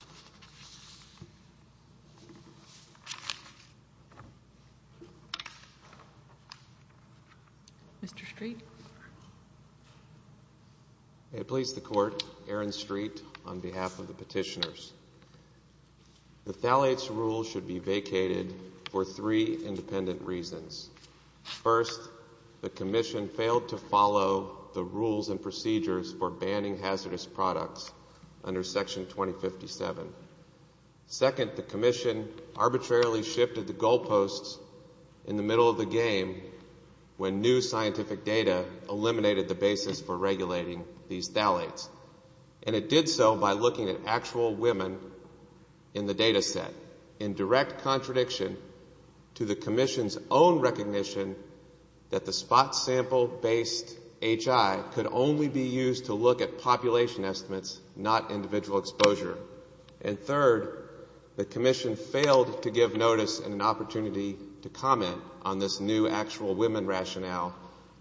Commissioners Mr. Street I place the court at Arendt Street on behalf of the petitioners. The thalates rule should be vacated for three independent reasons. First, the Commission failed to follow the Rules and Procedures for Banning Second, the Commission arbitrarily shifted the goalposts in the middle of the game when new scientific data eliminated the basis for regulating these thalates. And it did so by looking at actual women in the data set, in direct contradiction to the Commission's own recognition that the spot-sample-based HI could only be used to look at population estimates, not individual exposure. And third, the Commission failed to give notice and an opportunity to comment on this new actual women rationale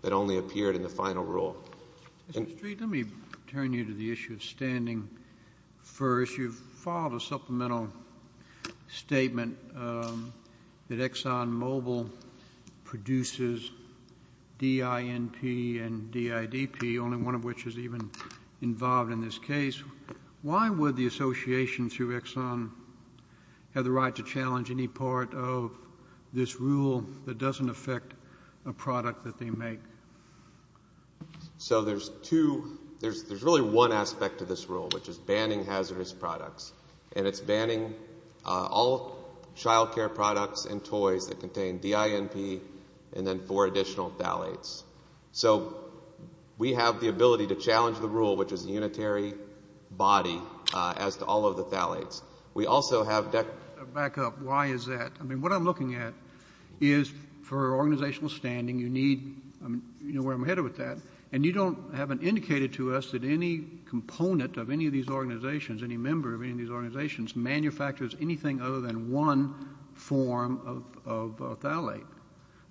that only appeared in the final rule. Mr. Street, let me turn you to the issue of standing first. You filed a supplemental statement that ExxonMobil produces DINP and DIDP, the only one of which is even involved in this case. Why would the association through Exxon have the right to challenge any part of this rule that doesn't affect a product that they make? So there's really one aspect to this rule, which is banning hazardous products. And it's banning all child care products and toys that contain DINP and then four additional thalates. So we have the ability to challenge the rule, which is a unitary body, as to all of the thalates. We also have deck... Back up. Why is that? I mean, what I'm looking at is for organizational standing, you need, you know where I'm headed with that, and you haven't indicated to us that any component of any of these organizations, any member of any of these organizations, manufactures anything other than one form of thalate.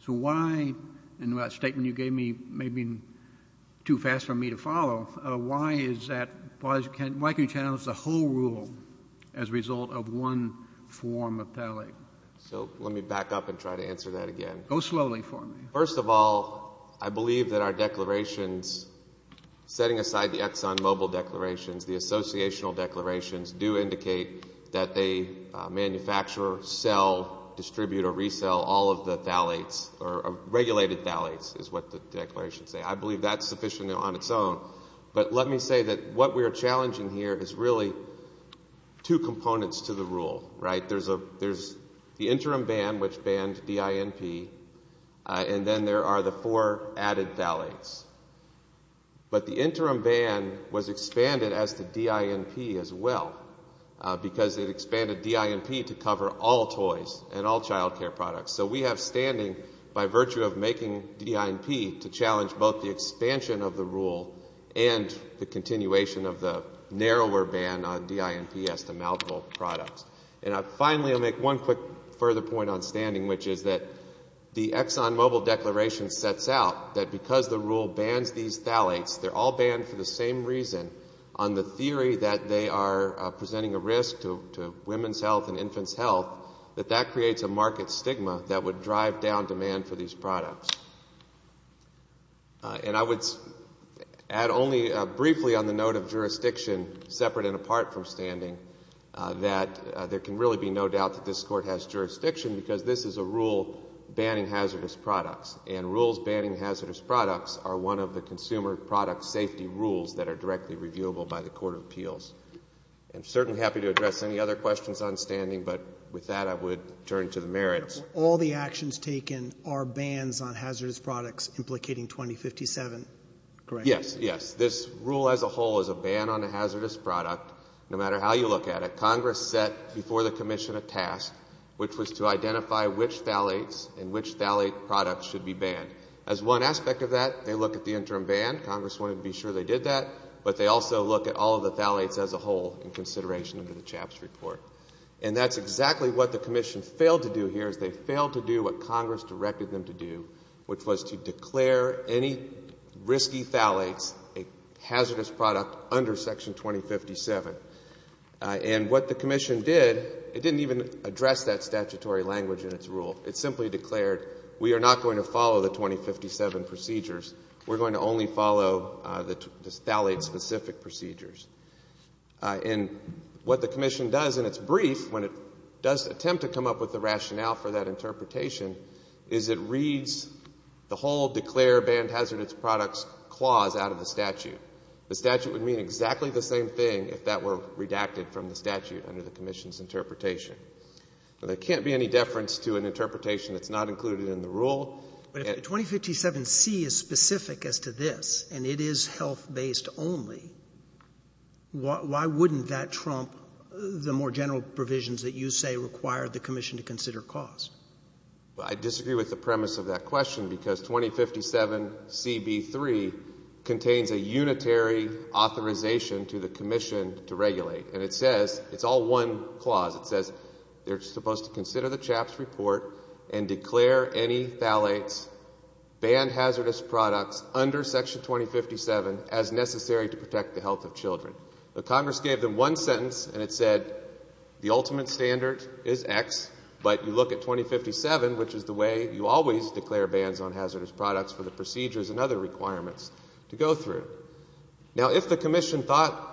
So why, in that statement you gave me, maybe too fast for me to follow, why is that, why can you challenge the whole rule as a result of one form of thalate? So let me back up and try to answer that again. Go slowly for me. First of all, I believe that our declarations, setting aside the ExxonMobil declarations, all of the thalates, or regulated thalates, is what the declarations say. I believe that's sufficiently on its own. But let me say that what we are challenging here is really two components to the rule, right? There's the interim ban, which banned DINP, and then there are the four added thalates. But the interim ban was expanded as to DINP as well, because it expanded DINP to cover all toys and all child care products. So we have standing by virtue of making DINP to challenge both the expansion of the rule and the continuation of the narrower ban on DINP as to mouthable products. And finally, I'll make one quick further point on standing, which is that the ExxonMobil declaration sets out that because the rule bans these thalates, they're all banned for the same reason, on the theory that they are presenting a risk to women's health and infants' health, that that creates a market stigma that would drive down demand for these products. And I would add only briefly on the note of jurisdiction, separate and apart from standing, that there can really be no doubt that this Court has jurisdiction because this is a rule banning hazardous products, and rules banning hazardous products are one of the consumer product safety rules that are directly reviewable by the Court of Appeals. I'm certainly happy to address any other questions on standing, but with that I would turn to the merits. All the actions taken are bans on hazardous products implicating 2057, correct? Yes, yes. This rule as a whole is a ban on a hazardous product, no matter how you look at it. Congress set before the Commission a task, which was to identify which thalates and which thalate products should be banned. As one aspect of that, they look at the interim ban. Congress wanted to be sure they did that, but they also look at all of the thalates as a whole in consideration of the CHAPS report. And that's exactly what the Commission failed to do here, is they failed to do what Congress directed them to do, which was to declare any risky thalates a hazardous product under Section 2057. And what the Commission did, it didn't even address that statutory language in its rule. It simply declared, we are not going to follow the 2057 procedures. We're going to only follow the thalate-specific procedures. And what the Commission does in its brief, when it does attempt to come up with the rationale for that interpretation, is it reads the whole declare banned hazardous products clause out of the statute. The statute would mean exactly the same thing if that were redacted from the statute under the Commission's interpretation. There can't be any deference to an interpretation that's not included in the rule. But if the 2057C is specific as to this and it is health-based only, why wouldn't that trump the more general provisions that you say require the Commission to consider cost? I disagree with the premise of that question because 2057CB3 contains a unitary authorization to the Commission to regulate. And it says it's all one clause. It says they're supposed to consider the CHAPS report and declare any thalates banned hazardous products under Section 2057 as necessary to protect the health of children. But Congress gave them one sentence and it said the ultimate standard is X, but you look at 2057, which is the way you always declare bans on hazardous products for the procedures and other requirements to go through. Now, if the Commission thought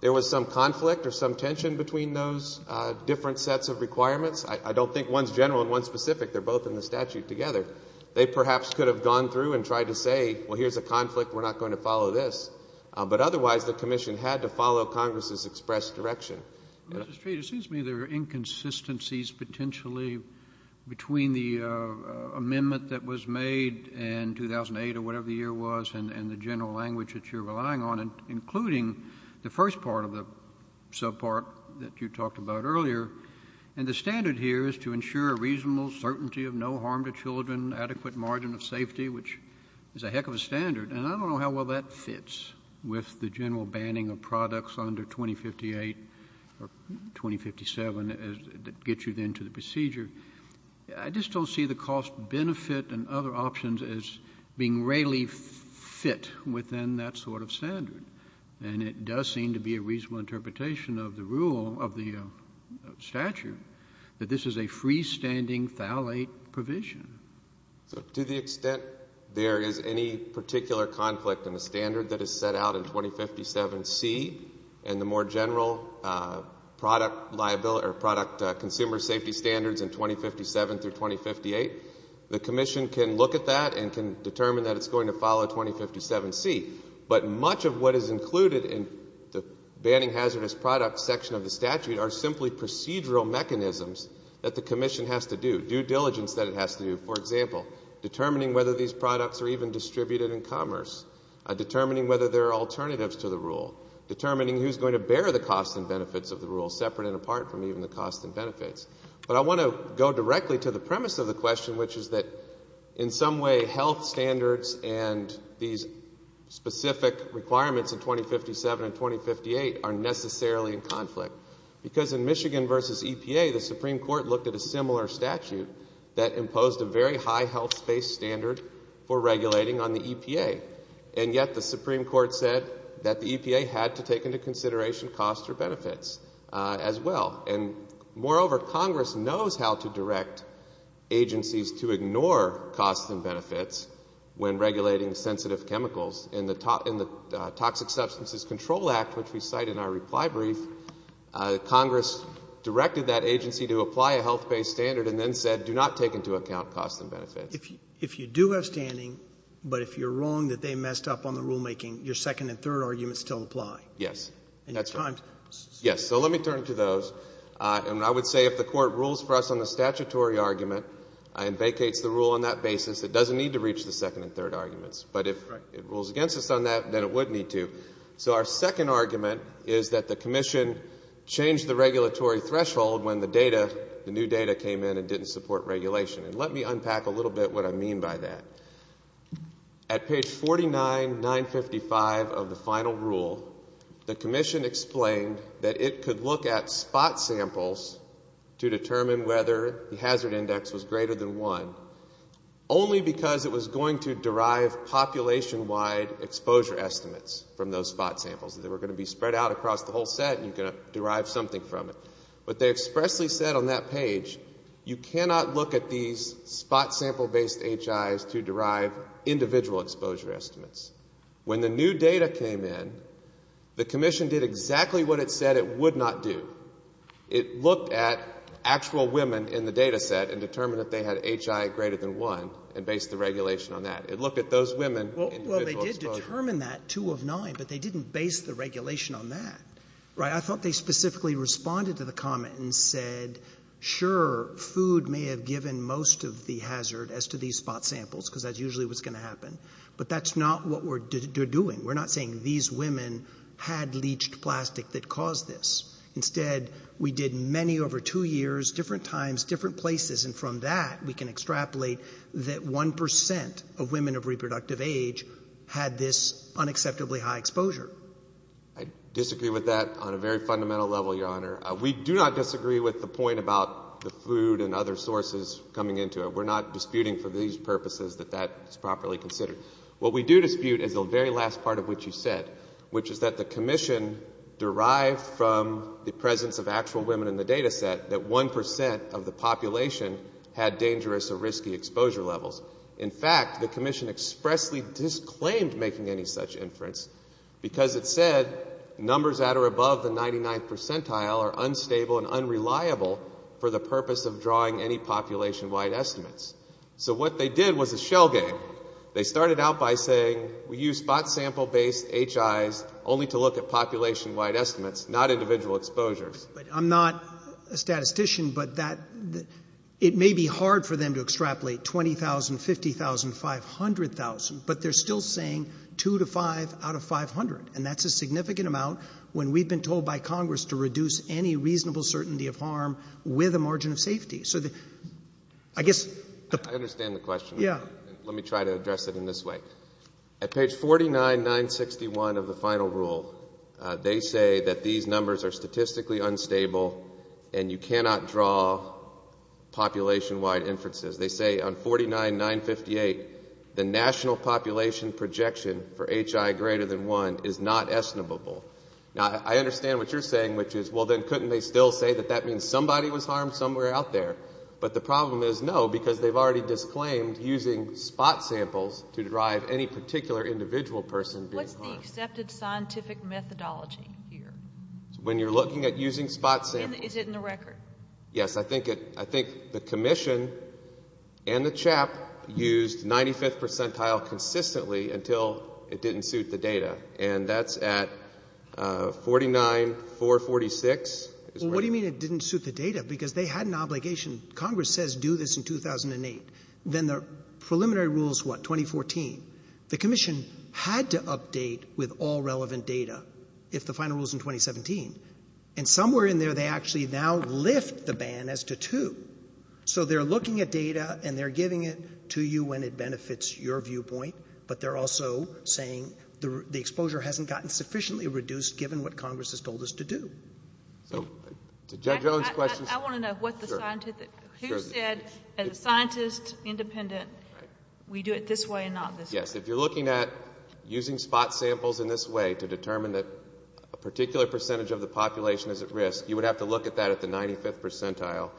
there was some conflict or some tension between those different sets of requirements, I don't think one's general and one's specific. They're both in the statute together. They perhaps could have gone through and tried to say, well, here's a conflict, we're not going to follow this. But otherwise the Commission had to follow Congress's expressed direction. Mr. Street, it seems to me there are inconsistencies potentially between the amendment that was made in 2008 or whatever the year was and the general language that you're relying on, including the first part of the subpart that you talked about earlier. And the standard here is to ensure a reasonable certainty of no harm to children, adequate margin of safety, which is a heck of a standard. And I don't know how well that fits with the general banning of products under 2058 or 2057 as it gets you then to the procedure. I just don't see the cost-benefit and other options as being really fit within that sort of standard. And it does seem to be a reasonable interpretation of the rule, of the statute, that this is a freestanding phthalate provision. To the extent there is any particular conflict in the standard that is set out in 2057C and the more general product liability or product consumer safety standards in 2057 through 2058, the Commission can look at that and can determine that it's going to follow 2057C. But much of what is included in the banning hazardous products section of the statute are simply procedural mechanisms that the Commission has to do, due diligence that it has to do, for example, determining whether these products are even distributed in commerce, determining whether there are alternatives to the rule, determining who's going to bear the costs and benefits of the rule, separate and apart from even the costs and benefits. But I want to go directly to the premise of the question, which is that in some way health standards and these specific requirements in 2057 and 2058 are necessarily in conflict. Because in Michigan v. EPA, the Supreme Court looked at a similar statute that imposed a very high health space standard for regulating on the EPA. And yet the Supreme Court said that the EPA had to take into consideration costs or benefits as well. And moreover, Congress knows how to direct agencies to ignore costs and benefits when regulating sensitive chemicals. In the Toxic Substances Control Act, which we cite in our reply brief, Congress directed that agency to apply a health-based standard and then said do not take into account costs and benefits. If you do have standing, but if you're wrong that they messed up on the rulemaking, your second and third arguments still apply. Yes. Yes. So let me turn to those. And I would say if the Court rules for us on the statutory argument and vacates the rule on that basis, it doesn't need to reach the second and third arguments. But if it rules against us on that, then it would need to. So our second argument is that the commission changed the regulatory threshold when the new data came in and didn't support regulation. And let me unpack a little bit what I mean by that. At page 49, 955 of the final rule, the commission explained that it could look at spot samples to determine whether the hazard index was greater than one only because it was going to derive population-wide exposure estimates from those spot samples. They were going to be spread out across the whole set and you could derive something from it. But they expressly said on that page, you cannot look at these spot sample-based HIs to derive individual exposure estimates. When the new data came in, the commission did exactly what it said it would not do. It looked at actual women in the data set and determined if they had HI greater than one and based the regulation on that. It looked at those women, individual exposure. Well, they did determine that, two of nine, but they didn't base the regulation on that. I thought they specifically responded to the comment and said, sure, food may have given most of the hazard as to these spot samples because that's usually what's going to happen. But that's not what we're doing. We're not saying these women had leached plastic that caused this. Instead, we did many over two years, different times, different places, and from that we can extrapolate that 1% of women of reproductive age had this unacceptably high exposure. I disagree with that on a very fundamental level, Your Honor. We do not disagree with the point about the food and other sources coming into it. We're not disputing for these purposes that that's properly considered. What we do dispute is the very last part of what you said, which is that the commission derived from the presence of actual women in the data set that 1% of the population had dangerous or risky exposure levels. In fact, the commission expressly disclaimed making any such inference because it said numbers that are above the 99th percentile are unstable and unreliable for the purpose of drawing any population-wide estimates. So what they did was a shell game. They started out by saying we use spot sample-based HIs only to look at population-wide estimates, not individual exposures. I'm not a statistician, but it may be hard for them to extrapolate 20,000, 50,000, 500,000, but they're still saying two to five out of 500, and that's a significant amount when we've been told by Congress to reduce any reasonable certainty of harm with a margin of safety. I understand the question. Let me try to address it in this way. At page 49, 961 of the final rule, they say that these numbers are statistically unstable and you cannot draw population-wide inferences. They say on 49, 958, the national population projection for HI greater than 1 is not estimable. Now, I understand what you're saying, which is, well, then couldn't they still say that that means somebody was harmed somewhere out there? But the problem is, no, because they've already disclaimed using spot samples to derive any particular individual person being harmed. What's the accepted scientific methodology here? When you're looking at using spot samples? Is it in the record? Yes, I think the commission and the CHAP used 95th percentile consistently until it didn't suit the data, and that's at 49, 446. Well, what do you mean it didn't suit the data? Because they had an obligation. Congress says do this in 2008. Then the preliminary rule is what? 2014. The commission had to update with all relevant data if the final rule is in 2017, and somewhere in there they actually now lift the ban as to two. So they're looking at data and they're giving it to you when it benefits your viewpoint, but they're also saying the exposure hasn't gotten sufficiently reduced given what Congress has told us to do. I want to know what the scientist said. As a scientist, independent, we do it this way and not this way. Yes, if you're looking at using spot samples in this way to determine that a particular percentage of the population is at risk, you would have to look at that at the 95th percentile,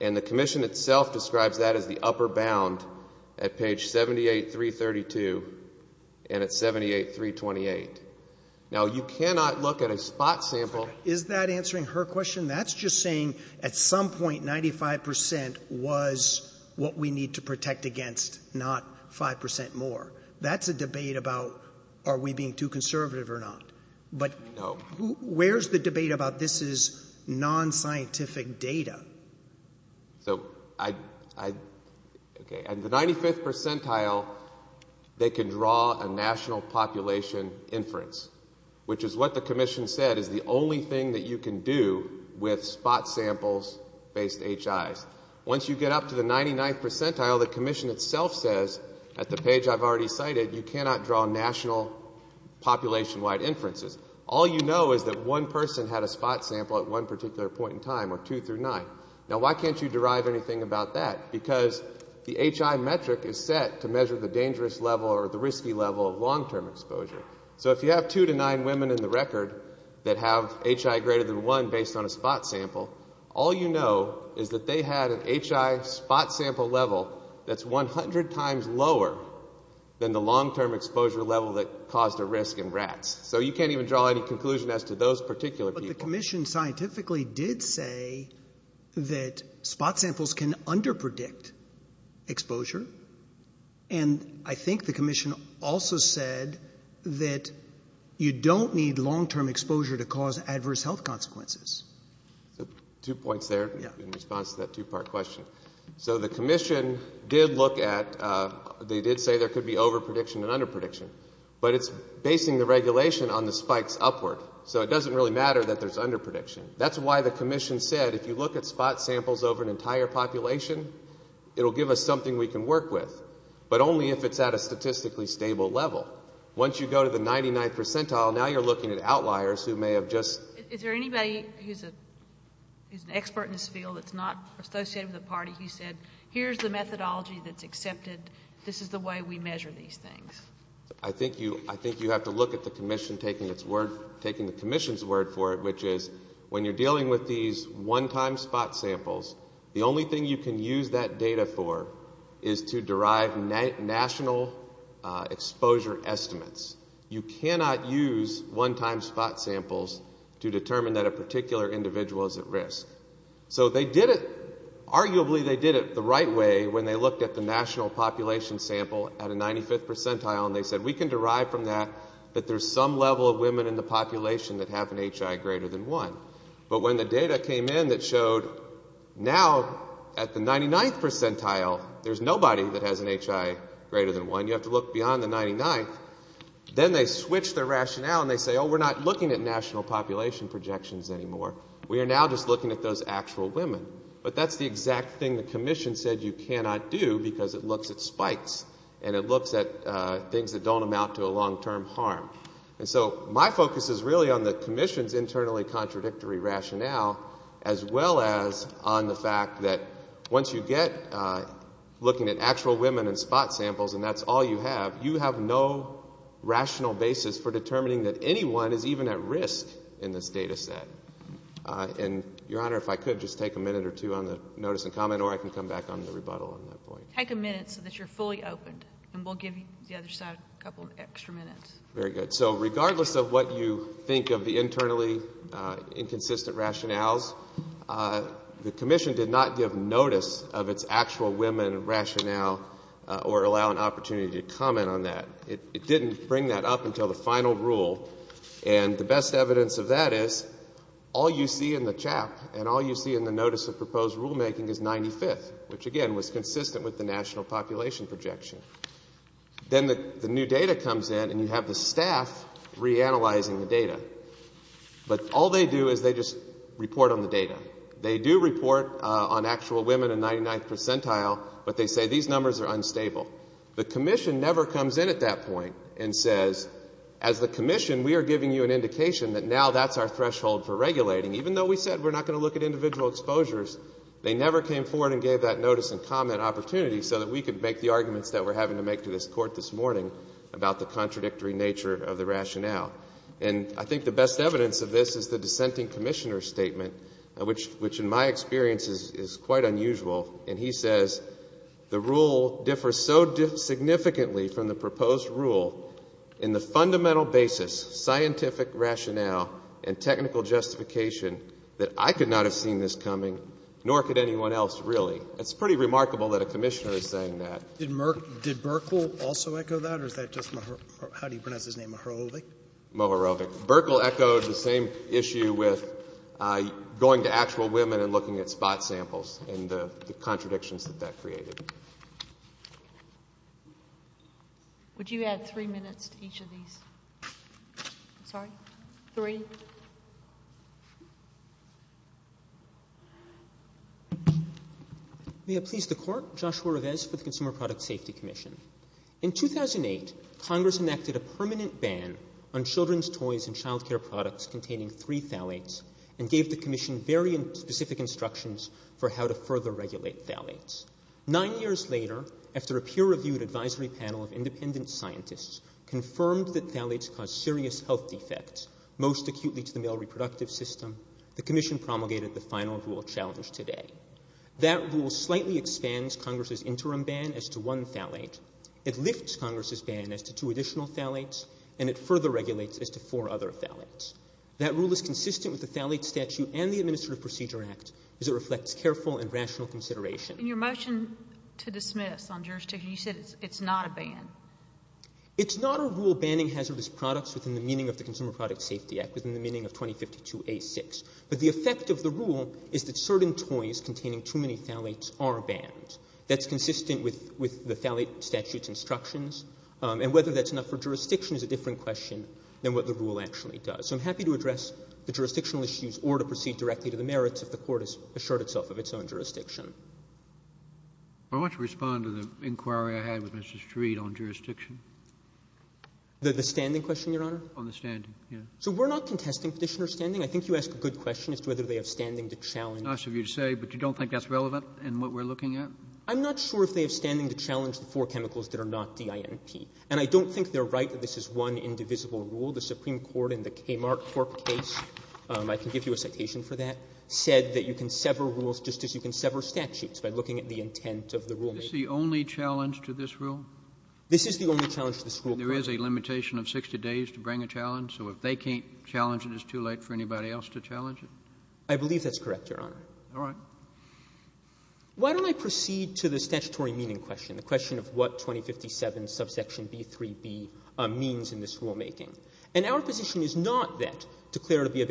and the commission itself describes that as the upper bound at page 78, 332 and at 78, 328. Now, you cannot look at a spot sample. Is that answering her question? That's just saying at some point 95% was what we need to protect against, not 5% more. That's a debate about are we being too conservative or not. But where's the debate about this is non-scientific data? And the 95th percentile, they can draw a national population inference, which is what the commission said is the only thing that you can do with spot samples based HIs. Once you get up to the 99th percentile, the commission itself says, at the page I've already cited, you cannot draw national population-wide inferences. All you know is that one person had a spot sample at one particular point in time, or two through nine. Now, why can't you derive anything about that? Because the HI metric is set to measure the dangerous level or the risky level of long-term exposure. So if you have two to nine women in the record that have HI greater than one based on a spot sample, all you know is that they had an HI spot sample level that's 100 times lower than the long-term exposure level that caused a risk in rats. So you can't even draw any conclusion as to those particular people. But the commission scientifically did say that spot samples can under-predict exposure, and I think the commission also said that you don't need long-term exposure to cause adverse health consequences. Two points there in response to that two-part question. So the commission did look at they did say there could be over-prediction and under-prediction, but it's basing the regulation on the spikes upward. So it doesn't really matter that there's under-prediction. That's why the commission said if you look at spot samples over an entire population, it will give us something we can work with, but only if it's at a statistically stable level. Once you go to the 99th percentile, now you're looking at outliers who may have just... Is there anybody who's an expert in this field that's not associated with the party who said, here's the methodology that's accepted, this is the way we measure these things? I think you have to look at the commission taking the commission's word for it, which is when you're dealing with these one-time spot samples, the only thing you can use that data for is to derive national exposure estimates. You cannot use one-time spot samples to determine that a particular individual is at risk. So arguably they did it the right way when they looked at the national population sample at a 95th percentile and they said we can derive from that that there's some level of women in the population that have an HI greater than 1. But when the data came in that showed now at the 99th percentile, there's nobody that has an HI greater than 1. You have to look beyond the 99th. Then they switched their rationale and they say, oh, we're not looking at national population projections anymore. We are now just looking at those actual women. But that's the exact thing the commission said you cannot do because it looks at spikes and it looks at things that don't amount to a long-term harm. And so my focus is really on the commission's internally contradictory rationale as well as on the fact that once you get looking at actual women in spot samples and that's all you have, you have no rational basis for determining that anyone is even at risk in this data set. And, Your Honor, if I could just take a minute or two on the notice and comment or I can come back on the rebuttal on that point. Take a minute so that you're fully opened and we'll give the other side a couple extra minutes. Very good. So regardless of what you think of the internally inconsistent rationales, the commission did not give notice of its actual women rationale or allow an opportunity to comment on that. It didn't bring that up until the final rule. And the best evidence of that is all you see in the CHAP and all you see in the notice of proposed rulemaking is 95th, which again was consistent with the national population projection. Then the new data comes in and you have the staff reanalyzing the data. But all they do is they just report on the data. They do report on actual women in 99th percentile, but they say these numbers are unstable. The commission never comes in at that point and says, as the commission we are giving you an indication that now that's our threshold for regulating. Even though we said we're not going to look at individual exposures, they never came forward and gave that notice and comment opportunity so that we could make the arguments that we're having to make to this Court this morning about the contradictory nature of the rationale. And I think the best evidence of this is the dissenting commissioner's statement, which in my experience is quite unusual. And he says the rule differs so significantly from the proposed rule in the fundamental basis, scientific rationale, and technical justification that I could not have seen this coming, nor could anyone else really. It's pretty remarkable that a commissioner is saying that. Did Merkel also echo that or is that just how do you pronounce his name, Mohorovic? Mohorovic. Merkel echoed the same issue with going to actual women and looking at spot samples and the contradictions that that created. Would you add three minutes to each of these? Sorry? Three? May it please the Court. Joshua Reves for the Consumer Product Safety Commission. In 2008, Congress enacted a permanent ban on children's toys and child care products containing three phthalates and gave the commission very specific instructions for how to further regulate phthalates. Nine years later, after a peer-reviewed advisory panel of independent scientists confirmed that phthalates cause serious health defects, most acutely to the male reproductive system, the commission promulgated the final rule challenged today. That rule slightly expands Congress's interim ban as to one phthalate. It lifts Congress's ban as to two additional phthalates, and it further regulates as to four other phthalates. That rule is consistent with the phthalate statute and the Administrative Procedure Act as it reflects careful and rational consideration. In your motion to dismiss on jurisdiction, you said it's not a ban. It's not a rule banning hazardous products within the meaning of the Consumer Product Safety Act, within the meaning of 2052A6. But the effect of the rule is that certain toys containing too many phthalates are banned. That's consistent with the phthalate statute's instructions, and whether that's enough for jurisdiction is a different question than what the rule actually does. So I'm happy to address the jurisdictional issues or to proceed directly to the merits if the Court has assured itself of its own jurisdiction. Kennedy. I want to respond to the inquiry I had with Mr. Street on jurisdiction. The standing question, Your Honor? On the standing, yes. So we're not contesting Petitioner's standing. I think you asked a good question as to whether they have standing to challenge Nice of you to say, but you don't think that's relevant in what we're looking at? I'm not sure if they have standing to challenge the four chemicals that are not DINP. And I don't think they're right that this is one indivisible rule. The Supreme Court in the Kmart Cork case, I can give you a citation for that, said that you can sever rules just as you can sever statutes by looking at the intent of the rulemaking. Is this the only challenge to this rule? This is the only challenge to this rule. There is a limitation of 60 days to bring a challenge. So if they can't challenge it, it's too late for anybody else to challenge it? I believe that's correct, Your Honor. All right. Why don't I proceed to the statutory meaning question, the question of what 2057 subsection B3b means in this rulemaking. And our position is not that declared to be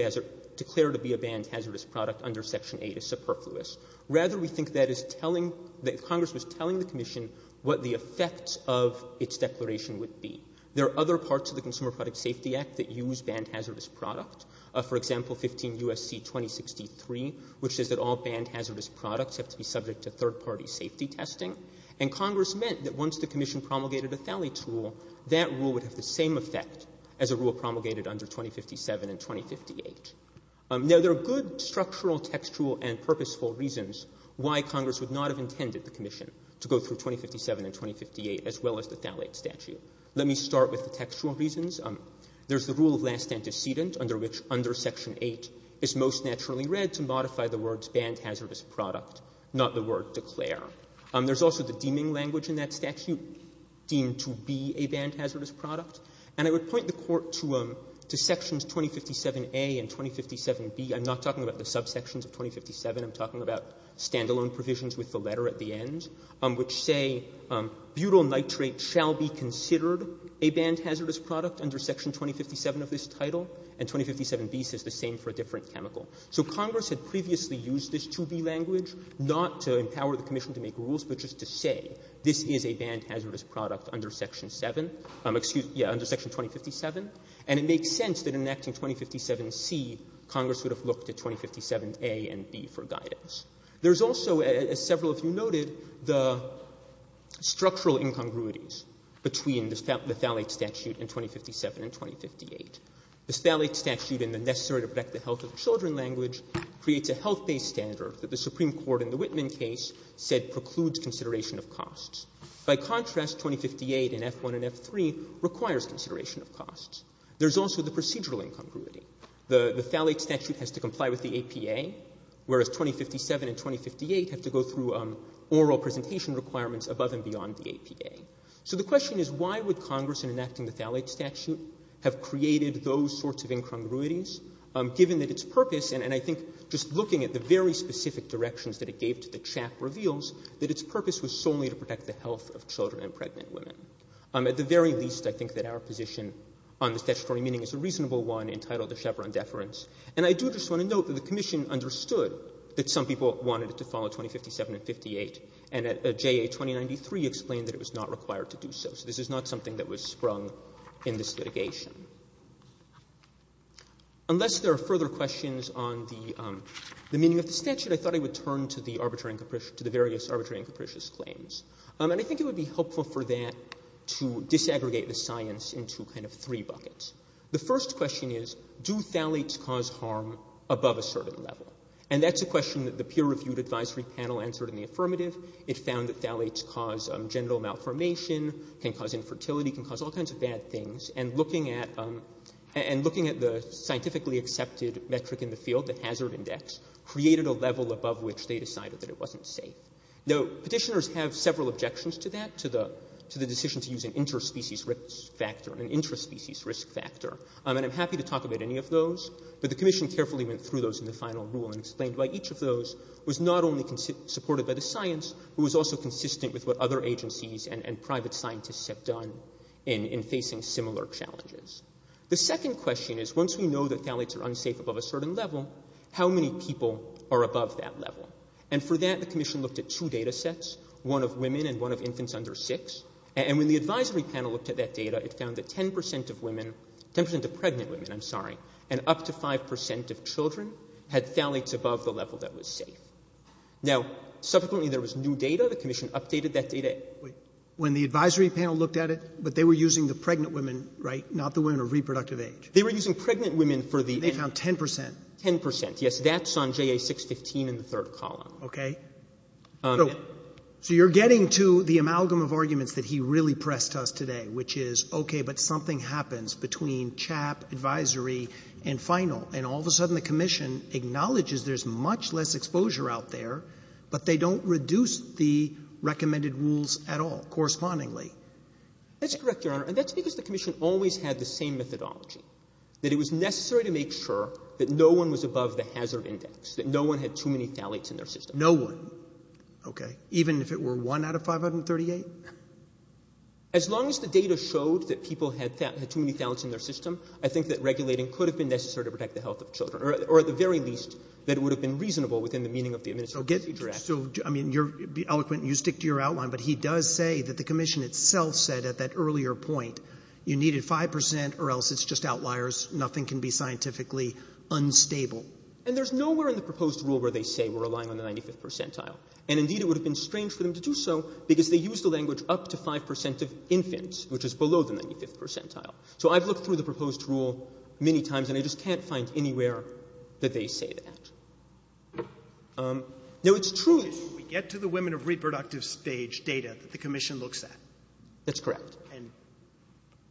a banned hazardous product under section 8 is superfluous. Rather, we think that is telling, that Congress was telling the Commission what the effects of its declaration would be. There are other parts of the Consumer Product Safety Act that use banned hazardous product. For example, 15 U.S.C. 2063, which says that all banned hazardous products have to be subject to third-party safety testing. And Congress meant that once the Commission promulgated a phthalates rule, that rule would have the same effect as a rule promulgated under 2057 and 2058. Now, there are good structural, textual, and purposeful reasons why Congress would not have intended the Commission to go through 2057 and 2058 as well as the phthalates statute. Let me start with the textual reasons. There's the rule of last antecedent under which under section 8 is most naturally read to modify the words banned hazardous product, not the word declare. There's also the deeming language in that statute deemed to be a banned hazardous product. And I would point the Court to sections 2057a and 2057b. I'm not talking about the subsections of 2057. I'm talking about standalone provisions with the letter at the end, which say butyl nitrate shall be considered a banned hazardous product under section 2057 of this title, and 2057b says the same for a different chemical. So Congress had previously used this 2b language not to empower the Commission to make rules, but just to say this is a banned hazardous product under section 7, excuse me, under section 2057, and it makes sense that in enacting 2057c, Congress would have looked at 2057a and 2057b for guidance. There's also, as several of you noted, the structural incongruities between the phthalate statute and 2057 and 2058. The phthalate statute in the necessary to protect the health of the children language creates a health-based standard that the Supreme Court in the Whitman case said precludes consideration of costs. By contrast, 2058 in F1 and F3 requires consideration of costs. There's also the procedural incongruity. The phthalate statute has to comply with the APA, whereas 2057 and 2058 have to go through oral presentation requirements above and beyond the APA. So the question is why would Congress in enacting the phthalate statute have created those sorts of incongruities, given that its purpose, and I think just looking at the very specific directions that it gave to the CHAP reveals that its purpose was solely to protect the health of children and pregnant women. At the very least, I think that our position on the statutory meaning is a reasonable one entitled the Chevron deference. And I do just want to note that the Commission understood that some people wanted to follow 2057 and 58, and JA 2093 explained that it was not required to do so. So this is not something that was sprung in this litigation. Unless there are further questions on the meaning of the statute, I thought I would turn to the various arbitrary and capricious claims. And I think it would be helpful for that to disaggregate the science into kind of three buckets. The first question is, do phthalates cause harm above a certain level? And that's a question that the peer-reviewed advisory panel answered in the affirmative. It found that phthalates cause genital malformation, can cause infertility, can cause all kinds of bad things. And looking at the scientifically accepted metric in the field, the hazard index, created a level above which they decided that it wasn't safe. Now, Petitioners have several objections to that, to the decision to use an interspecies risk factor, an intraspecies risk factor. And I'm happy to talk about any of those. But the commission carefully went through those in the final rule and explained why each of those was not only supported by the science, but was also consistent with what other agencies and private scientists have done in facing similar challenges. The second question is, once we know that phthalates are unsafe above a certain level, how many people are above that level? And for that, the commission looked at two data sets, one of women and one of infants under six. And when the advisory panel looked at that data, it found that 10% of women, 10% of children, had phthalates above the level that was safe. Now, subsequently, there was new data. The commission updated that data. Wait. When the advisory panel looked at it, but they were using the pregnant women, right, not the women of reproductive age? They were using pregnant women for the end. They found 10%. Ten percent. Yes. That's on JA615 in the third column. Okay. So you're getting to the amalgam of arguments that he really pressed us today, which is, okay, but something happens between CHAP, advisory, and final, and all of a sudden, the commission acknowledges there's much less exposure out there, but they don't reduce the recommended rules at all, correspondingly. That's correct, Your Honor. And that's because the commission always had the same methodology, that it was necessary to make sure that no one was above the hazard index, that no one had too many phthalates in their system. No one. Okay. Even if it were one out of 538? As long as the data showed that people had too many phthalates in their system, I think that regulating could have been necessary to protect the health of children, or at the very least, that it would have been reasonable within the meaning of the Administrative Agency Directive. Okay. So, I mean, you're eloquent, and you stick to your outline, but he does say that the commission itself said at that earlier point, you needed 5%, or else it's just outliers, nothing can be scientifically unstable. And there's nowhere in the proposed rule where they say we're relying on the 95th percentile. And, indeed, it would have been strange for them to do so, because they use the language up to 5% of infants, which is below the 95th percentile. So I've looked through the proposed rule many times, and I just can't find anywhere that they say that. Now, it's true that we get to the women of reproductive stage data that the commission looks at. That's correct. And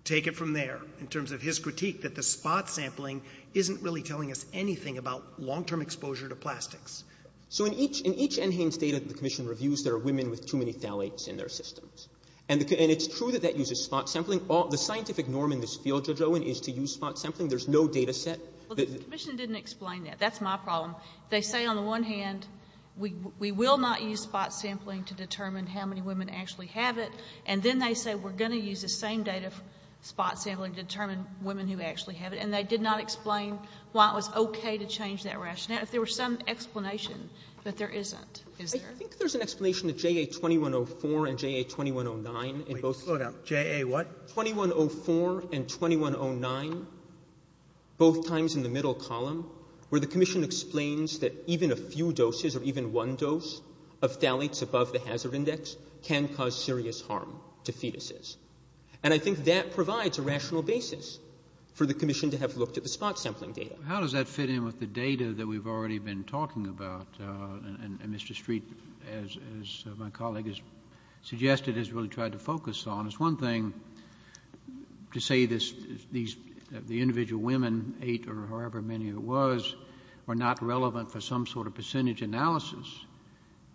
take it from there, in terms of his critique, that the spot sampling isn't really telling us anything about long-term exposure to plastics. So in each NHANES data that the commission reviews, there are women with too many phthalates in their systems. And it's true that that uses spot sampling. The scientific norm in this field, Judge Owen, is to use spot sampling. There's no data set. Well, the commission didn't explain that. That's my problem. They say, on the one hand, we will not use spot sampling to determine how many women actually have it. And then they say we're going to use the same data spot sampling to determine women who actually have it. And they did not explain why it was okay to change that rationale. If there were some explanation that there isn't, is there? I think there's an explanation to JA-2104 and JA-2109. Wait. Slow down. JA what? 2104 and 2109, both times in the middle column, where the commission explains that even a few doses or even one dose of phthalates above the hazard index can cause serious harm to fetuses. And I think that provides a rational basis for the commission to have looked at the spot sampling data. How does that fit in with the data that we've already been talking about? And Mr. Street, as my colleague has suggested, has really tried to focus on. It's one thing to say the individual women, eight or however many there was, were not relevant for some sort of percentage analysis.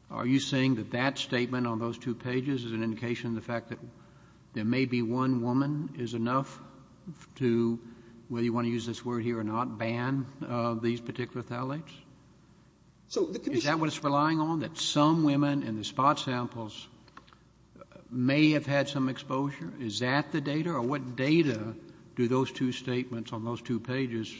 Are you saying that that statement on those two pages is an indication of the fact that there may be one woman is enough to, whether you want to use this word here or not, ban these particular phthalates? Is that what it's relying on, that some women in the spot samples may have had some exposure? Is that the data? Or what data do those two statements on those two pages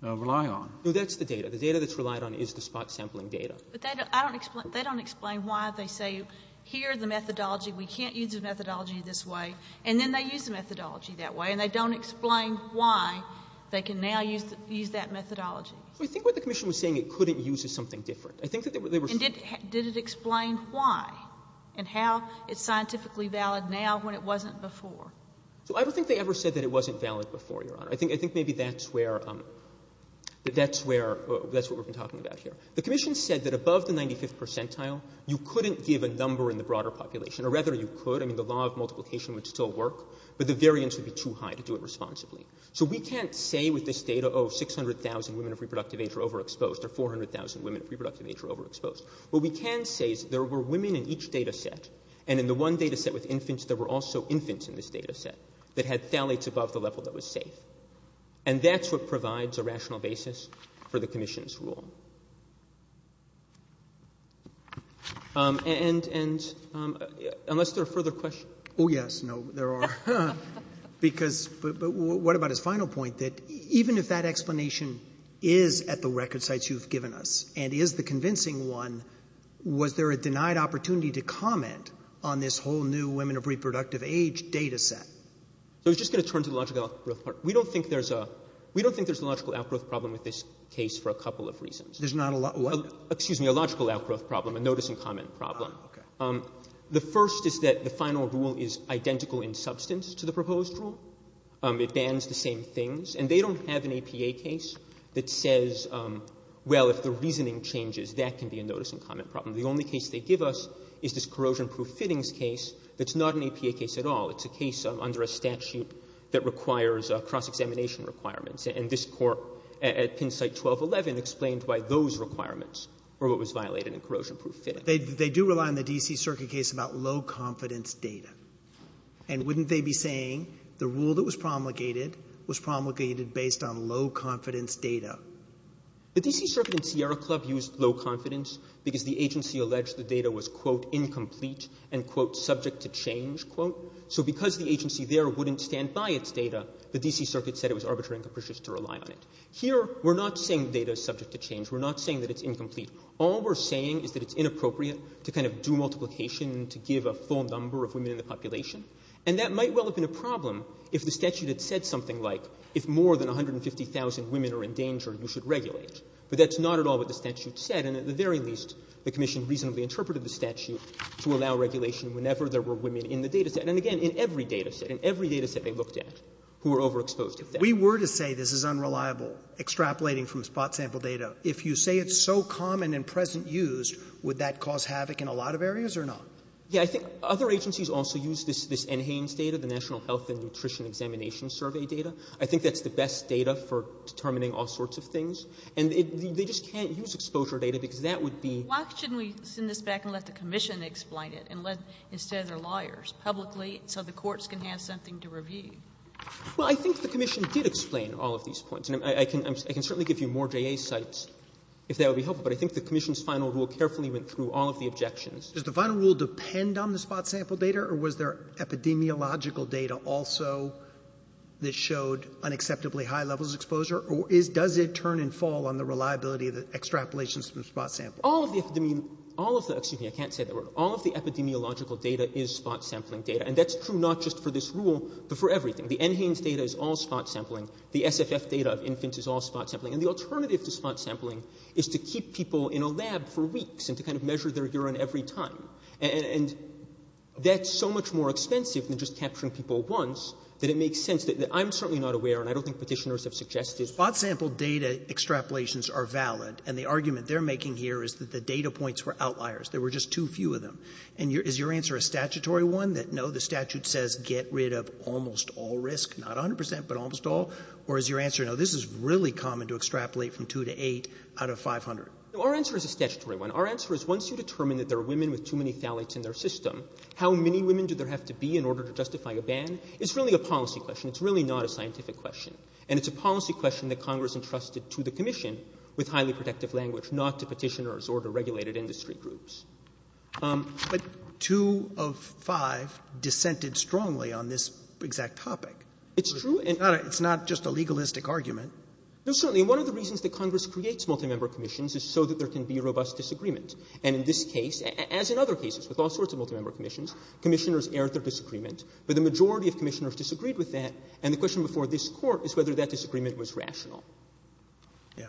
rely on? No, that's the data. The data that's relied on is the spot sampling data. But they don't explain why they say, here's the methodology. We can't use the methodology this way. And then they use the methodology that way. And they don't explain why they can now use that methodology. So I think what the commission was saying it couldn't use is something different. I think that they were saying that they were saying that they were saying it couldn't use is something different. And did it explain why and how it's scientifically valid now when it wasn't before? So I don't think they ever said that it wasn't valid before, Your Honor. I think maybe that's where we've been talking about here. The commission said that above the 95th percentile, you couldn't give a number in the broader population. Or rather, you could. I mean, the law of multiplication would still work. But the variance would be too high to do it responsibly. So we can't say with this data, oh, 600,000 women of reproductive age are overexposed, or 400,000 women of reproductive age are overexposed. What we can say is there were women in each data set. And in the one data set with infants, there were also infants in this data set that had phthalates above the level that was safe. And that's what provides a rational basis for the commission's rule. And unless there are further questions. Oh, yes. No, there are. But what about his final point, that even if that explanation is at the record sites you've given us and is the convincing one, was there a denied opportunity to comment on this whole new women of reproductive age data set? So I was just going to turn to the logical outgrowth part. We don't think there's a logical outgrowth problem with this case for a couple of reasons. There's not a logical outgrowth problem? Excuse me, a logical outgrowth problem, a notice-and-comment problem. Oh, okay. The first is that the final rule is identical in substance to the proposed rule. It bans the same things. And they don't have an APA case that says, well, if the reasoning changes, that can be a notice-and-comment problem. The only case they give us is this corrosion-proof fittings case that's not an APA case at all. It's a case under a statute that requires cross-examination requirements. And this court at Penn Site 1211 explained why those requirements were what was violated in corrosion-proof fittings. They do rely on the D.C. Circuit case about low-confidence data. And wouldn't they be saying the rule that was promulgated was promulgated based on low-confidence data? The D.C. Circuit and Sierra Club used low-confidence because the agency alleged the data was, quote, incomplete and, quote, subject to change, quote. So because the agency there wouldn't stand by its data, the D.C. Circuit has to rely on it. Here, we're not saying the data is subject to change. We're not saying that it's incomplete. All we're saying is that it's inappropriate to kind of do multiplication to give a full number of women in the population. And that might well have been a problem if the statute had said something like, if more than 150,000 women are in danger, you should regulate. But that's not at all what the statute said. And at the very least, the commission reasonably interpreted the statute to allow regulation whenever there were women in the data set. And again, in every data set, in every data set they looked at who were overexposed if that's true. We were to say this is unreliable, extrapolating from spot sample data. If you say it's so common and present used, would that cause havoc in a lot of areas or not? Yeah. I think other agencies also use this NHANES data, the National Health and Nutrition Examination Survey data. I think that's the best data for determining all sorts of things. And they just can't use exposure data because that would be — Why shouldn't we send this back and let the commission explain it and let, instead of their lawyers, publicly, so the courts can have something to review? Well, I think the commission did explain all of these points. And I can certainly give you more JA sites if that would be helpful. But I think the commission's final rule carefully went through all of the objections. Does the final rule depend on the spot sample data, or was there epidemiological data also that showed unacceptably high levels of exposure? Or does it turn and fall on the reliability of the extrapolations from spot sample? All of the epidemiological data is spot sampling data. And that's true not just for this rule, but for everything. The NHANES data is all spot sampling. The SFF data of infants is all spot sampling. And the alternative to spot sampling is to keep people in a lab for weeks and to kind of measure their urine every time. And that's so much more expensive than just capturing people once that it makes sense that — I'm certainly not aware, and I don't think Petitioners have suggested it. Spots sampled data extrapolations are valid. And the argument they're making here is that the data points were outliers. There were just too few of them. And is your answer a statutory one, that no, the statute says get rid of almost all risk, not 100 percent, but almost all? Or is your answer, no, this is really common to extrapolate from 2 to 8 out of 500? Now, our answer is a statutory one. Our answer is once you determine that there are women with too many phthalates in their system, how many women do there have to be in order to justify a ban? It's really a policy question. It's really not a scientific question. And it's a policy question that Congress entrusted to the Commission with highly protective language not to Petitioners or to regulated industry groups. Roberts. But two of five dissented strongly on this exact topic. It's true. It's not just a legalistic argument. No, certainly. And one of the reasons that Congress creates multimember commissions is so that there can be robust disagreement. And in this case, as in other cases with all sorts of multimember commissions, Commissioners aired their disagreement. But the majority of Commissioners disagreed with that. And the question before this Court is whether that disagreement was rational. Yeah.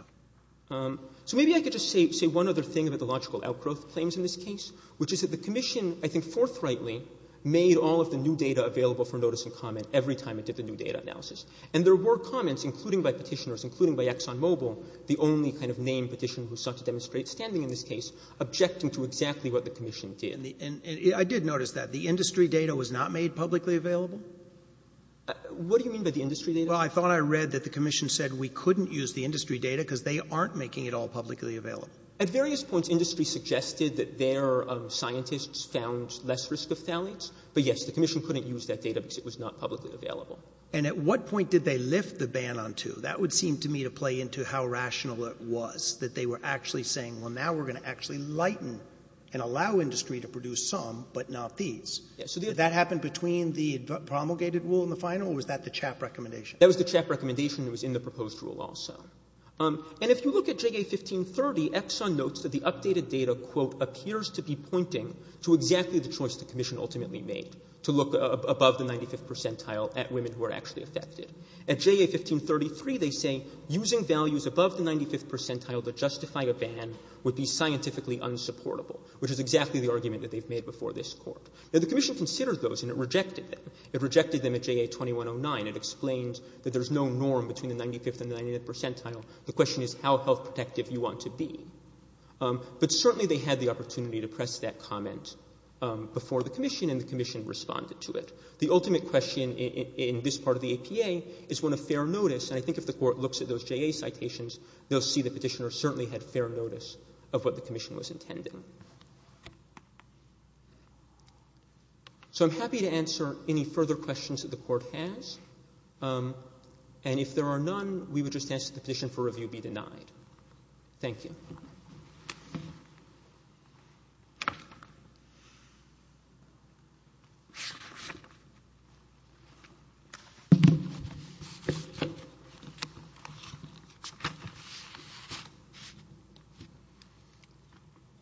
So maybe I could just say one other thing about the logical outgrowth claims in this case, which is that the Commission, I think forthrightly, made all of the new data available for notice and comment every time it did the new data analysis. And there were comments, including by Petitioners, including by ExxonMobil, the only kind of named Petitioner who sought to demonstrate standing in this case, objecting to exactly what the Commission did. And I did notice that. The industry data was not made publicly available? What do you mean by the industry data? Well, I thought I read that the Commission said we couldn't use the industry data because they aren't making it all publicly available. At various points, industry suggested that their scientists found less risk of phthalates. But yes, the Commission couldn't use that data because it was not publicly available. And at what point did they lift the ban on two? That would seem to me to play into how rational it was, that they were actually saying, well, now we're going to actually lighten and allow industry to produce some, but not these. Did that happen between the promulgated rule and the final, or was that the CHAP recommendation? That was the CHAP recommendation. It was in the proposed rule also. And if you look at JA 1530, Exxon notes that the updated data, quote, appears to be pointing to exactly the choice the Commission ultimately made, to look above the 95th percentile at women who are actually affected. At JA 1533, they say using values above the 95th percentile to justify a ban would be scientifically unsupportable, which is exactly the argument that they've made before this Court. Now, the Commission considered those, and it rejected them. It rejected them at JA 2109. It explained that there's no norm between the 95th and the 99th percentile. The question is how health protective you want to be. But certainly, they had the opportunity to press that comment before the Commission, and the Commission responded to it. The ultimate question in this part of the APA is one of fair notice. And I think if the Court looks at those JA citations, they'll see the petitioner certainly had fair notice of what the Commission was intending. So I'm happy to answer any further questions that the Court has. And if there are none, we would just ask that the petition for review be denied. Thank you.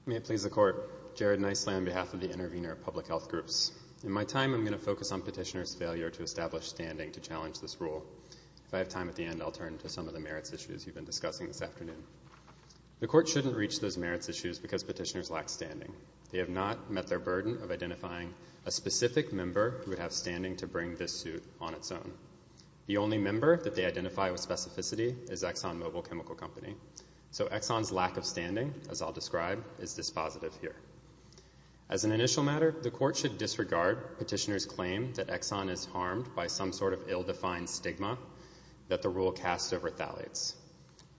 May it please the Court. Jared Nicely on behalf of the Intervenor Public Health Groups. In my time, I'm going to focus on petitioner's failure to establish standing to challenge this rule. If I have time at the end, I'll turn to some of the merits issues you've been discussing. The Court shouldn't reach those merits issues because petitioners lack standing. They have not met their burden of identifying a specific member who would have standing to bring this suit on its own. The only member that they identify with specificity is Exxon Mobil Chemical Company. So Exxon's lack of standing, as I'll describe, is dispositive here. As an initial matter, the Court should disregard petitioner's claim that Exxon is harmed by some sort of ill-defined stigma that the rule casts over thalates.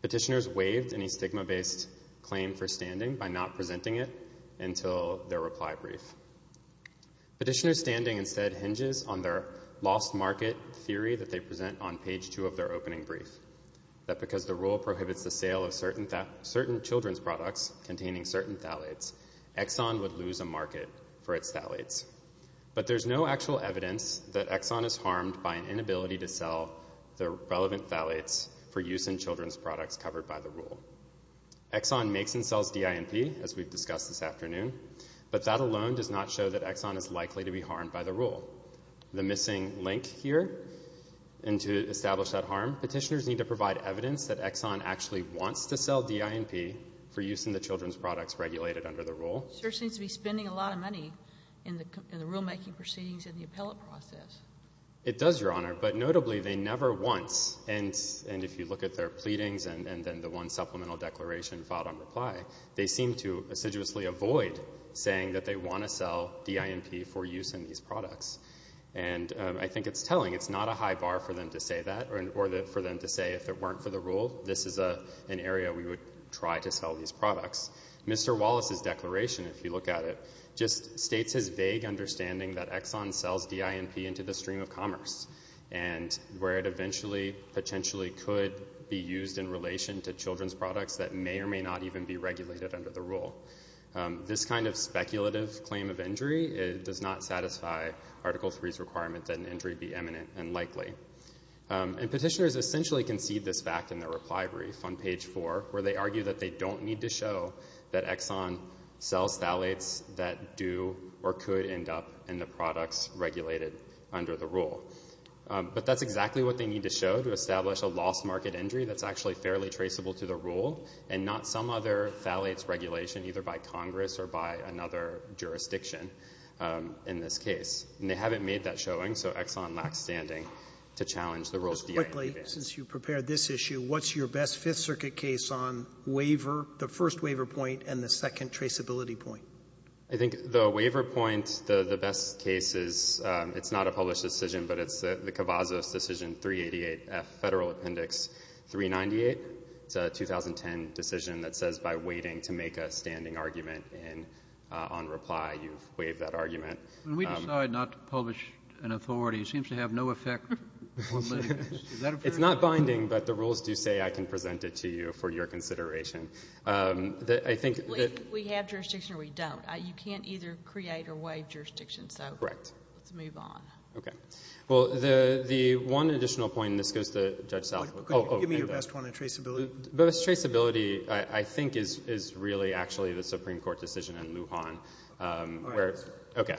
Petitioners waived any stigma-based claim for standing by not presenting it until their reply brief. Petitioner's standing instead hinges on their lost market theory that they present on page two of their opening brief, that because the rule prohibits the sale of certain children's products containing certain thalates, Exxon would lose a market for its thalates. But there's no actual evidence that Exxon is harmed by an inability to sell the relevant thalates for use in children's products covered by the rule. Exxon makes and sells DINP, as we've discussed this afternoon, but that alone does not show that Exxon is likely to be harmed by the rule. The missing link here, and to establish that harm, petitioners need to provide evidence that Exxon actually wants to sell DINP for use in the children's products regulated under the rule. It sure seems to be spending a lot of money in the rule-making proceedings and the appellate process. It does, Your Honor. But notably, they never once, and if you look at their pleadings and then the one supplemental declaration filed on reply, they seem to assiduously avoid saying that they want to sell DINP for use in these products. And I think it's telling. It's not a high bar for them to say that or for them to say if it weren't for the rule, this is an area we would try to sell these products. Mr. Wallace's declaration, if you look at it, just states his vague understanding that Exxon sells DINP into the stream of commerce and where it eventually potentially could be used in relation to children's products that may or may not even be regulated under the rule. This kind of speculative claim of injury does not satisfy Article III's requirement that an injury be eminent and likely. And petitioners essentially concede this fact in their reply brief on page 4, where they argue that they don't need to show that Exxon sells phthalates that do or could end up in the products regulated under the rule. But that's exactly what they need to show to establish a lost market injury that's actually fairly traceable to the rule and not some other phthalates regulation either by Congress or by another jurisdiction in this case. And they haven't made that showing, so Exxon lacks standing to challenge the rules of DINP. Just quickly, since you prepared this issue, what's your best Fifth Circuit case on waiver, the first waiver point and the second traceability point? I think the waiver point, the best case is, it's not a published decision, but it's the Cavazos Decision 388F, Federal Appendix 398. It's a 2010 decision that says by waiting to make a standing argument on reply, you've waived that argument. When we decide not to publish an authority, it seems to have no effect. It's not binding, but the rules do say I can present it to you for your consideration. We have jurisdiction or we don't. You can't either create or waive jurisdiction. Correct. Let's move on. Okay. Well, the one additional point, and this goes to Judge Southwick. Give me your best one on traceability. Best traceability, I think, is really actually the Supreme Court decision in Lujan. All right. Okay.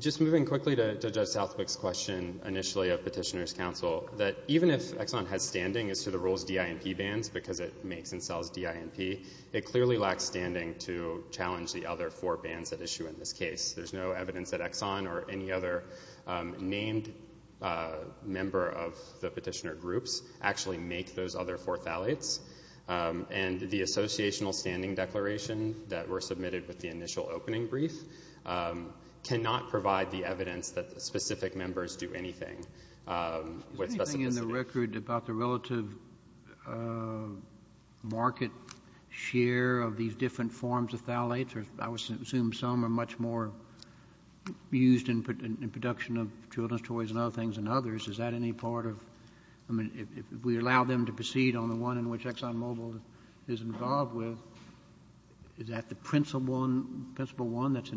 Just moving quickly to Judge Southwick's question initially of petitioner's counsel, that even if Exxon has standing as to the rules DINP bans because it makes and sells DINP, it clearly lacks standing to challenge the other four bans at issue in this case. There's no evidence that Exxon or any other named member of the petitioner groups actually make those other four phthalates. And the associational standing declaration that were submitted with the initial opening brief cannot provide the evidence that the specific members do anything with specificity. Is there anything in the record about the relative market share of these different forms of phthalates? I would assume some are much more used in production of children's toys and other things than others. Is that any part of ‑‑ I mean, if we allow them to proceed on the one in which ExxonMobil is involved with, is that the principle one that's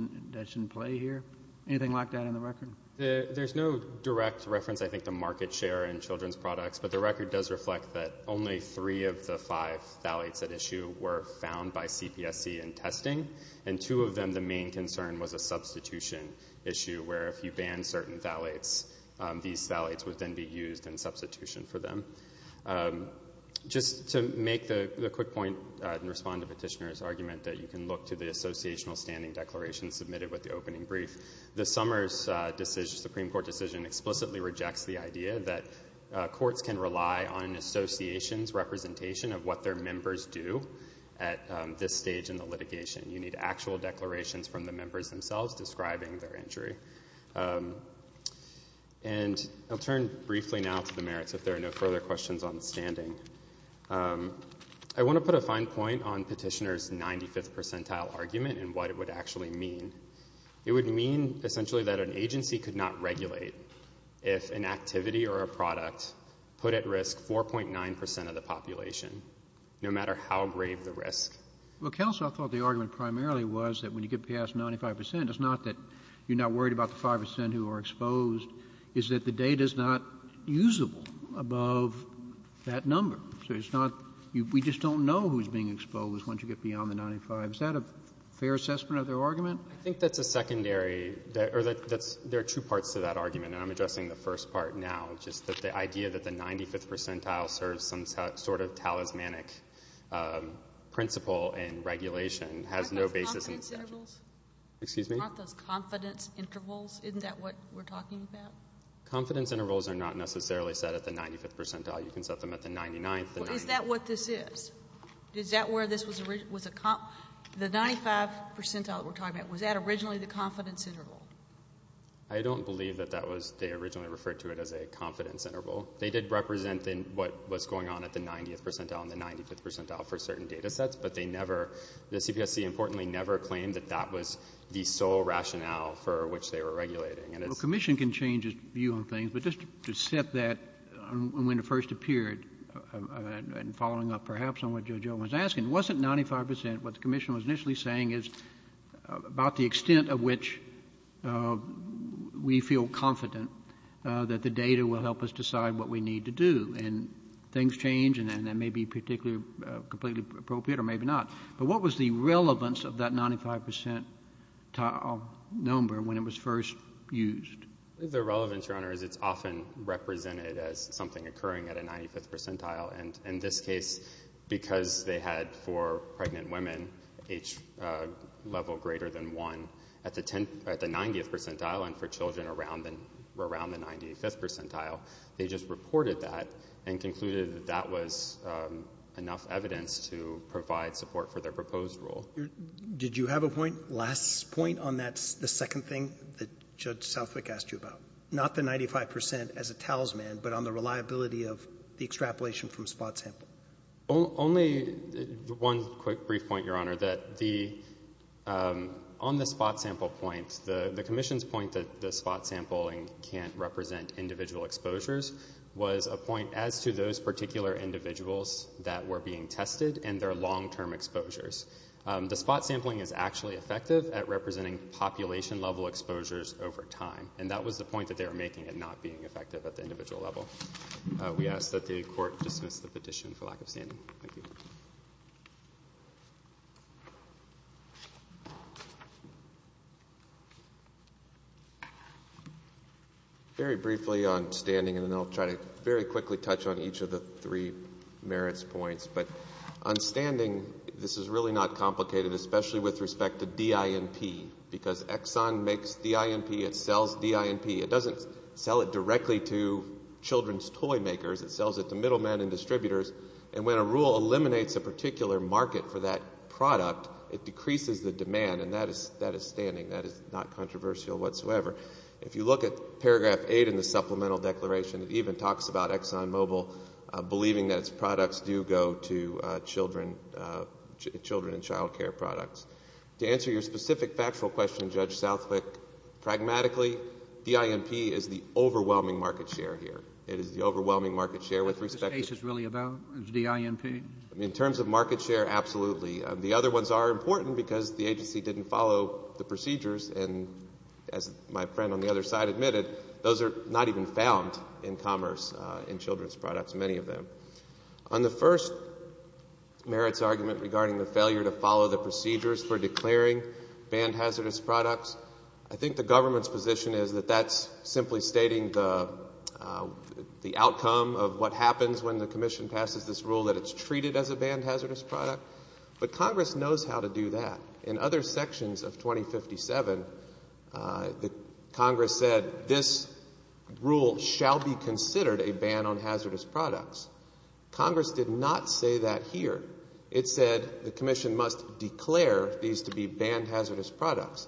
in play here? Anything like that in the record? There's no direct reference, I think, to market share in children's products. But the record does reflect that only three of the five phthalates at issue were found by CPSC in testing. And two of them, the main concern was a substitution issue where if you ban certain phthalates, these phthalates would then be used in substitution for them. Just to make the quick point and respond to the petitioner's argument that you can look to the associational standing declaration submitted with the opening Supreme Court decision explicitly rejects the idea that courts can rely on association's representation of what their members do at this stage in the litigation. You need actual declarations from the members themselves describing their injury. And I'll turn briefly now to the merits if there are no further questions on standing. I want to put a fine point on petitioner's 95th percentile argument and what it would actually mean. It would mean essentially that an agency could not regulate if an activity or a product put at risk 4.9 percent of the population, no matter how grave the risk. Well, counsel, I thought the argument primarily was that when you get past 95 percent, it's not that you're not worried about the 5 percent who are exposed, it's that the data's not usable above that number. So it's not we just don't know who's being exposed once you get beyond the 95. Is that a fair assessment of their argument? I think that's a secondary or there are two parts to that argument, and I'm addressing the first part now, just that the idea that the 95th percentile serves some sort of talismanic principle and regulation has no basis in the statute. Aren't those confidence intervals? Excuse me? Aren't those confidence intervals? Isn't that what we're talking about? Confidence intervals are not necessarily set at the 95th percentile. You can set them at the 99th. Is that what this is? Is that where this was? The 95th percentile that we're talking about, was that originally the confidence interval? I don't believe that they originally referred to it as a confidence interval. They did represent what was going on at the 90th percentile and the 95th percentile for certain data sets, but they never, the CPSC, importantly, never claimed that that was the sole rationale for which they were regulating. Well, commission can change its view on things, but just to set that when it first appeared, and following up perhaps on what Judge Owen was asking, wasn't 95 percent, what the commission was initially saying, about the extent of which we feel confident that the data will help us decide what we need to do? And things change, and that may be completely appropriate or maybe not. But what was the relevance of that 95th percentile number when it was first used? The relevance, Your Honor, is it's often represented as something occurring at a 95th percentile. And in this case, because they had for pregnant women, age level greater than 1, at the 90th percentile and for children around the 95th percentile, they just reported that and concluded that that was enough evidence to provide support for their proposed rule. Well, did you have a point, last point, on that second thing that Judge Southwick asked you about? Not the 95 percent as a talisman, but on the reliability of the extrapolation from spot sample. Only one quick brief point, Your Honor, that the, on the spot sample point, the commission's point that the spot sampling can't represent individual exposures was a point as to those The spot sampling is actually effective at representing population level exposures over time. And that was the point that they were making in not being effective at the individual level. We ask that the court dismiss the petition for lack of standing. Thank you. Very briefly on standing, and then I'll try to very quickly touch on each of the three merits points. But on standing, this is really not complicated, especially with respect to DINP, because Exxon makes DINP. It sells DINP. It doesn't sell it directly to children's toy makers. It sells it to middlemen and distributors. And when a rule eliminates a particular market for that product, it decreases the demand, and that is standing. That is not controversial whatsoever. If you look at paragraph 8 in the supplemental declaration, it even talks about Exxon Mobil believing that its products do go to children and child care products. To answer your specific factual question, Judge Southwick, pragmatically DINP is the overwhelming market share here. It is the overwhelming market share with respect to What this case is really about is DINP. In terms of market share, absolutely. The other ones are important because the agency didn't follow the procedures, and as my friend on the other side admitted, those are not even found in commerce in children's products, many of them. On the first merits argument regarding the failure to follow the procedures for declaring banned hazardous products, I think the government's position is that that's simply stating the outcome of what happens when the commission passes this rule, that it's treated as a banned hazardous product. But Congress knows how to do that. In other sections of 2057, Congress said this rule shall be considered a ban on hazardous products. Congress did not say that here. It said the commission must declare these to be banned hazardous products.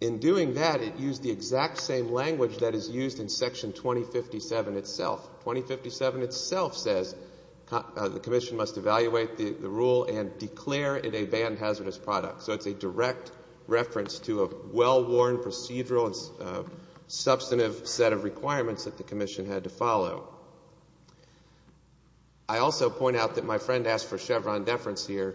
In doing that, it used the exact same language that is used in Section 2057 itself. 2057 itself says the commission must evaluate the rule and declare it a banned hazardous product. So it's a direct reference to a well-worn procedural and substantive set of requirements that the commission had to follow. I also point out that my friend asked for Chevron deference here,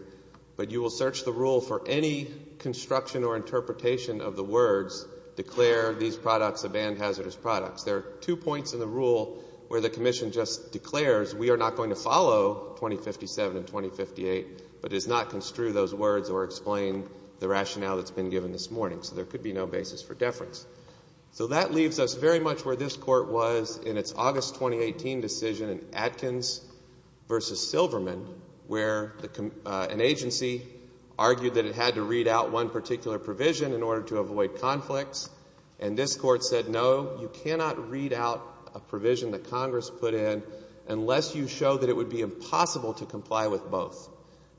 but you will search the rule for any construction or interpretation of the words declare these products a banned hazardous product. There are two points in the rule where the commission just declares we are not going to follow 2057 and 2058, but does not construe those words or explain the rationale that's been given this morning. So there could be no basis for deference. So that leaves us very much where this Court was in its August 2018 decision in Atkins v. Silverman, where an agency argued that it had to read out one particular provision in order to avoid conflicts, and this Court said no, you cannot read out a provision that Congress put in unless you show that it would be impossible to comply with both.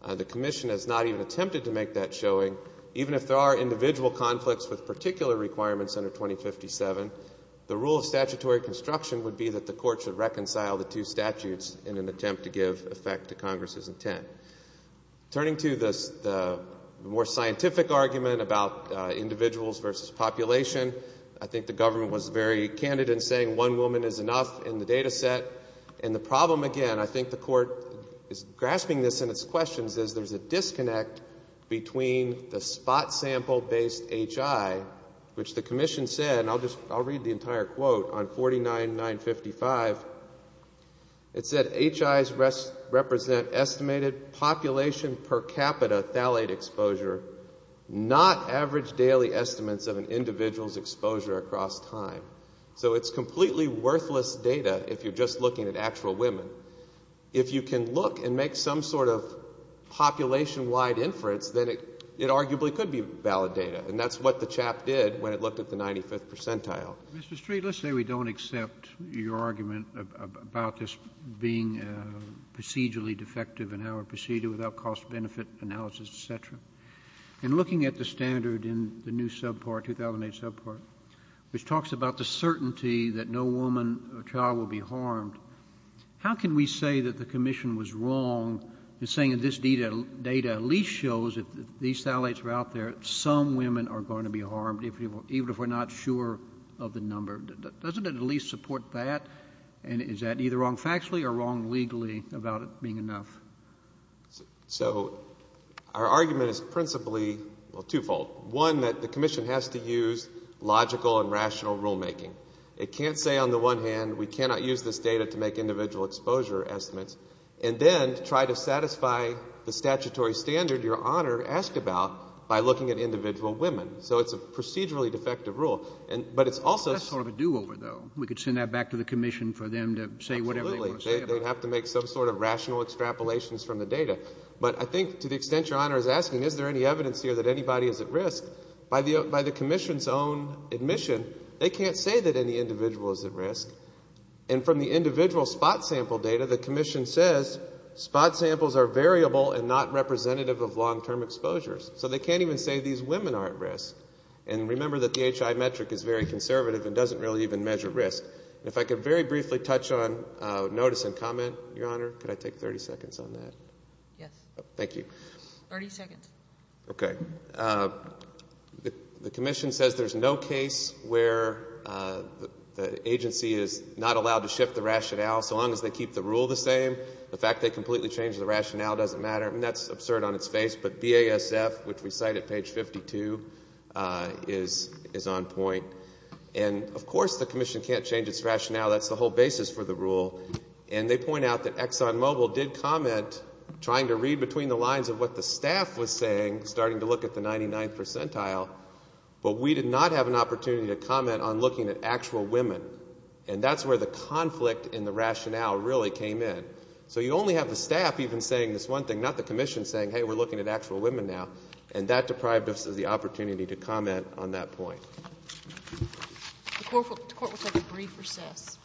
The commission has not even attempted to make that showing. Even if there are individual conflicts with particular requirements under 2057, the rule of statutory construction would be that the Court should reconcile the two statutes in an attempt to give effect to Congress's intent. Turning to the more scientific argument about individuals versus population, I think the government was very candid in saying one woman is enough in the data set. And the problem, again, I think the Court is grasping this in its questions, is there's a disconnect between the spot sample-based HI, which the commission said, and I'll read the entire quote on 49.955. It said, HIs represent estimated population per capita phthalate exposure, not average daily estimates of an individual's exposure across time. So it's completely worthless data if you're just looking at actual women. If you can look and make some sort of population-wide inference, then it arguably could be valid data. And that's what the CHAP did when it looked at the 95th percentile. Mr. Street, let's say we don't accept your argument about this being procedurally defective in our procedure without cost-benefit analysis, et cetera. In looking at the standard in the new subpart, 2008 subpart, which talks about the certainty that no woman or child will be harmed, how can we say that the commission was wrong in saying that this data at least shows if these phthalates are out there, some women are going to be harmed, even if we're not sure of the number? Doesn't it at least support that? And is that either wrong factually or wrong legally about it being enough? So our argument is principally twofold. One, that the commission has to use logical and rational rulemaking. It can't say on the one hand we cannot use this data to make individual exposure estimates and then try to satisfy the statutory standard Your Honor asked about by looking at individual women. So it's a procedurally defective rule. But it's also sort of a do-over, though. We could send that back to the commission for them to say whatever they want to say about it. Absolutely. They'd have to make some sort of rational extrapolations from the data. But I think to the extent Your Honor is asking is there any evidence here that anybody is at risk, by the commission's own admission, they can't say that any individual is at risk. And from the individual spot sample data, the commission says spot samples are variable and not representative of long-term exposures. So they can't even say these women are at risk. And remember that the HI metric is very conservative and doesn't really even measure risk. And if I could very briefly touch on notice and comment, Your Honor. Could I take 30 seconds on that? Yes. Thank you. 30 seconds. Okay. The commission says there's no case where the agency is not allowed to shift the rationale so long as they keep the rule the same. The fact they completely changed the rationale doesn't matter. And that's absurd on its face. But BASF, which we cite at page 52, is on point. And, of course, the commission can't change its rationale. That's the whole basis for the rule. And they point out that Exxon Mobil did comment, trying to read between the lines of what the staff was saying, starting to look at the 99th percentile, but we did not have an opportunity to comment on looking at actual women. And that's where the conflict in the rationale really came in. So you only have the staff even saying this one thing, not the commission saying, Hey, we're looking at actual women now. And that deprived us of the opportunity to comment on that point. The Court will take a brief recess.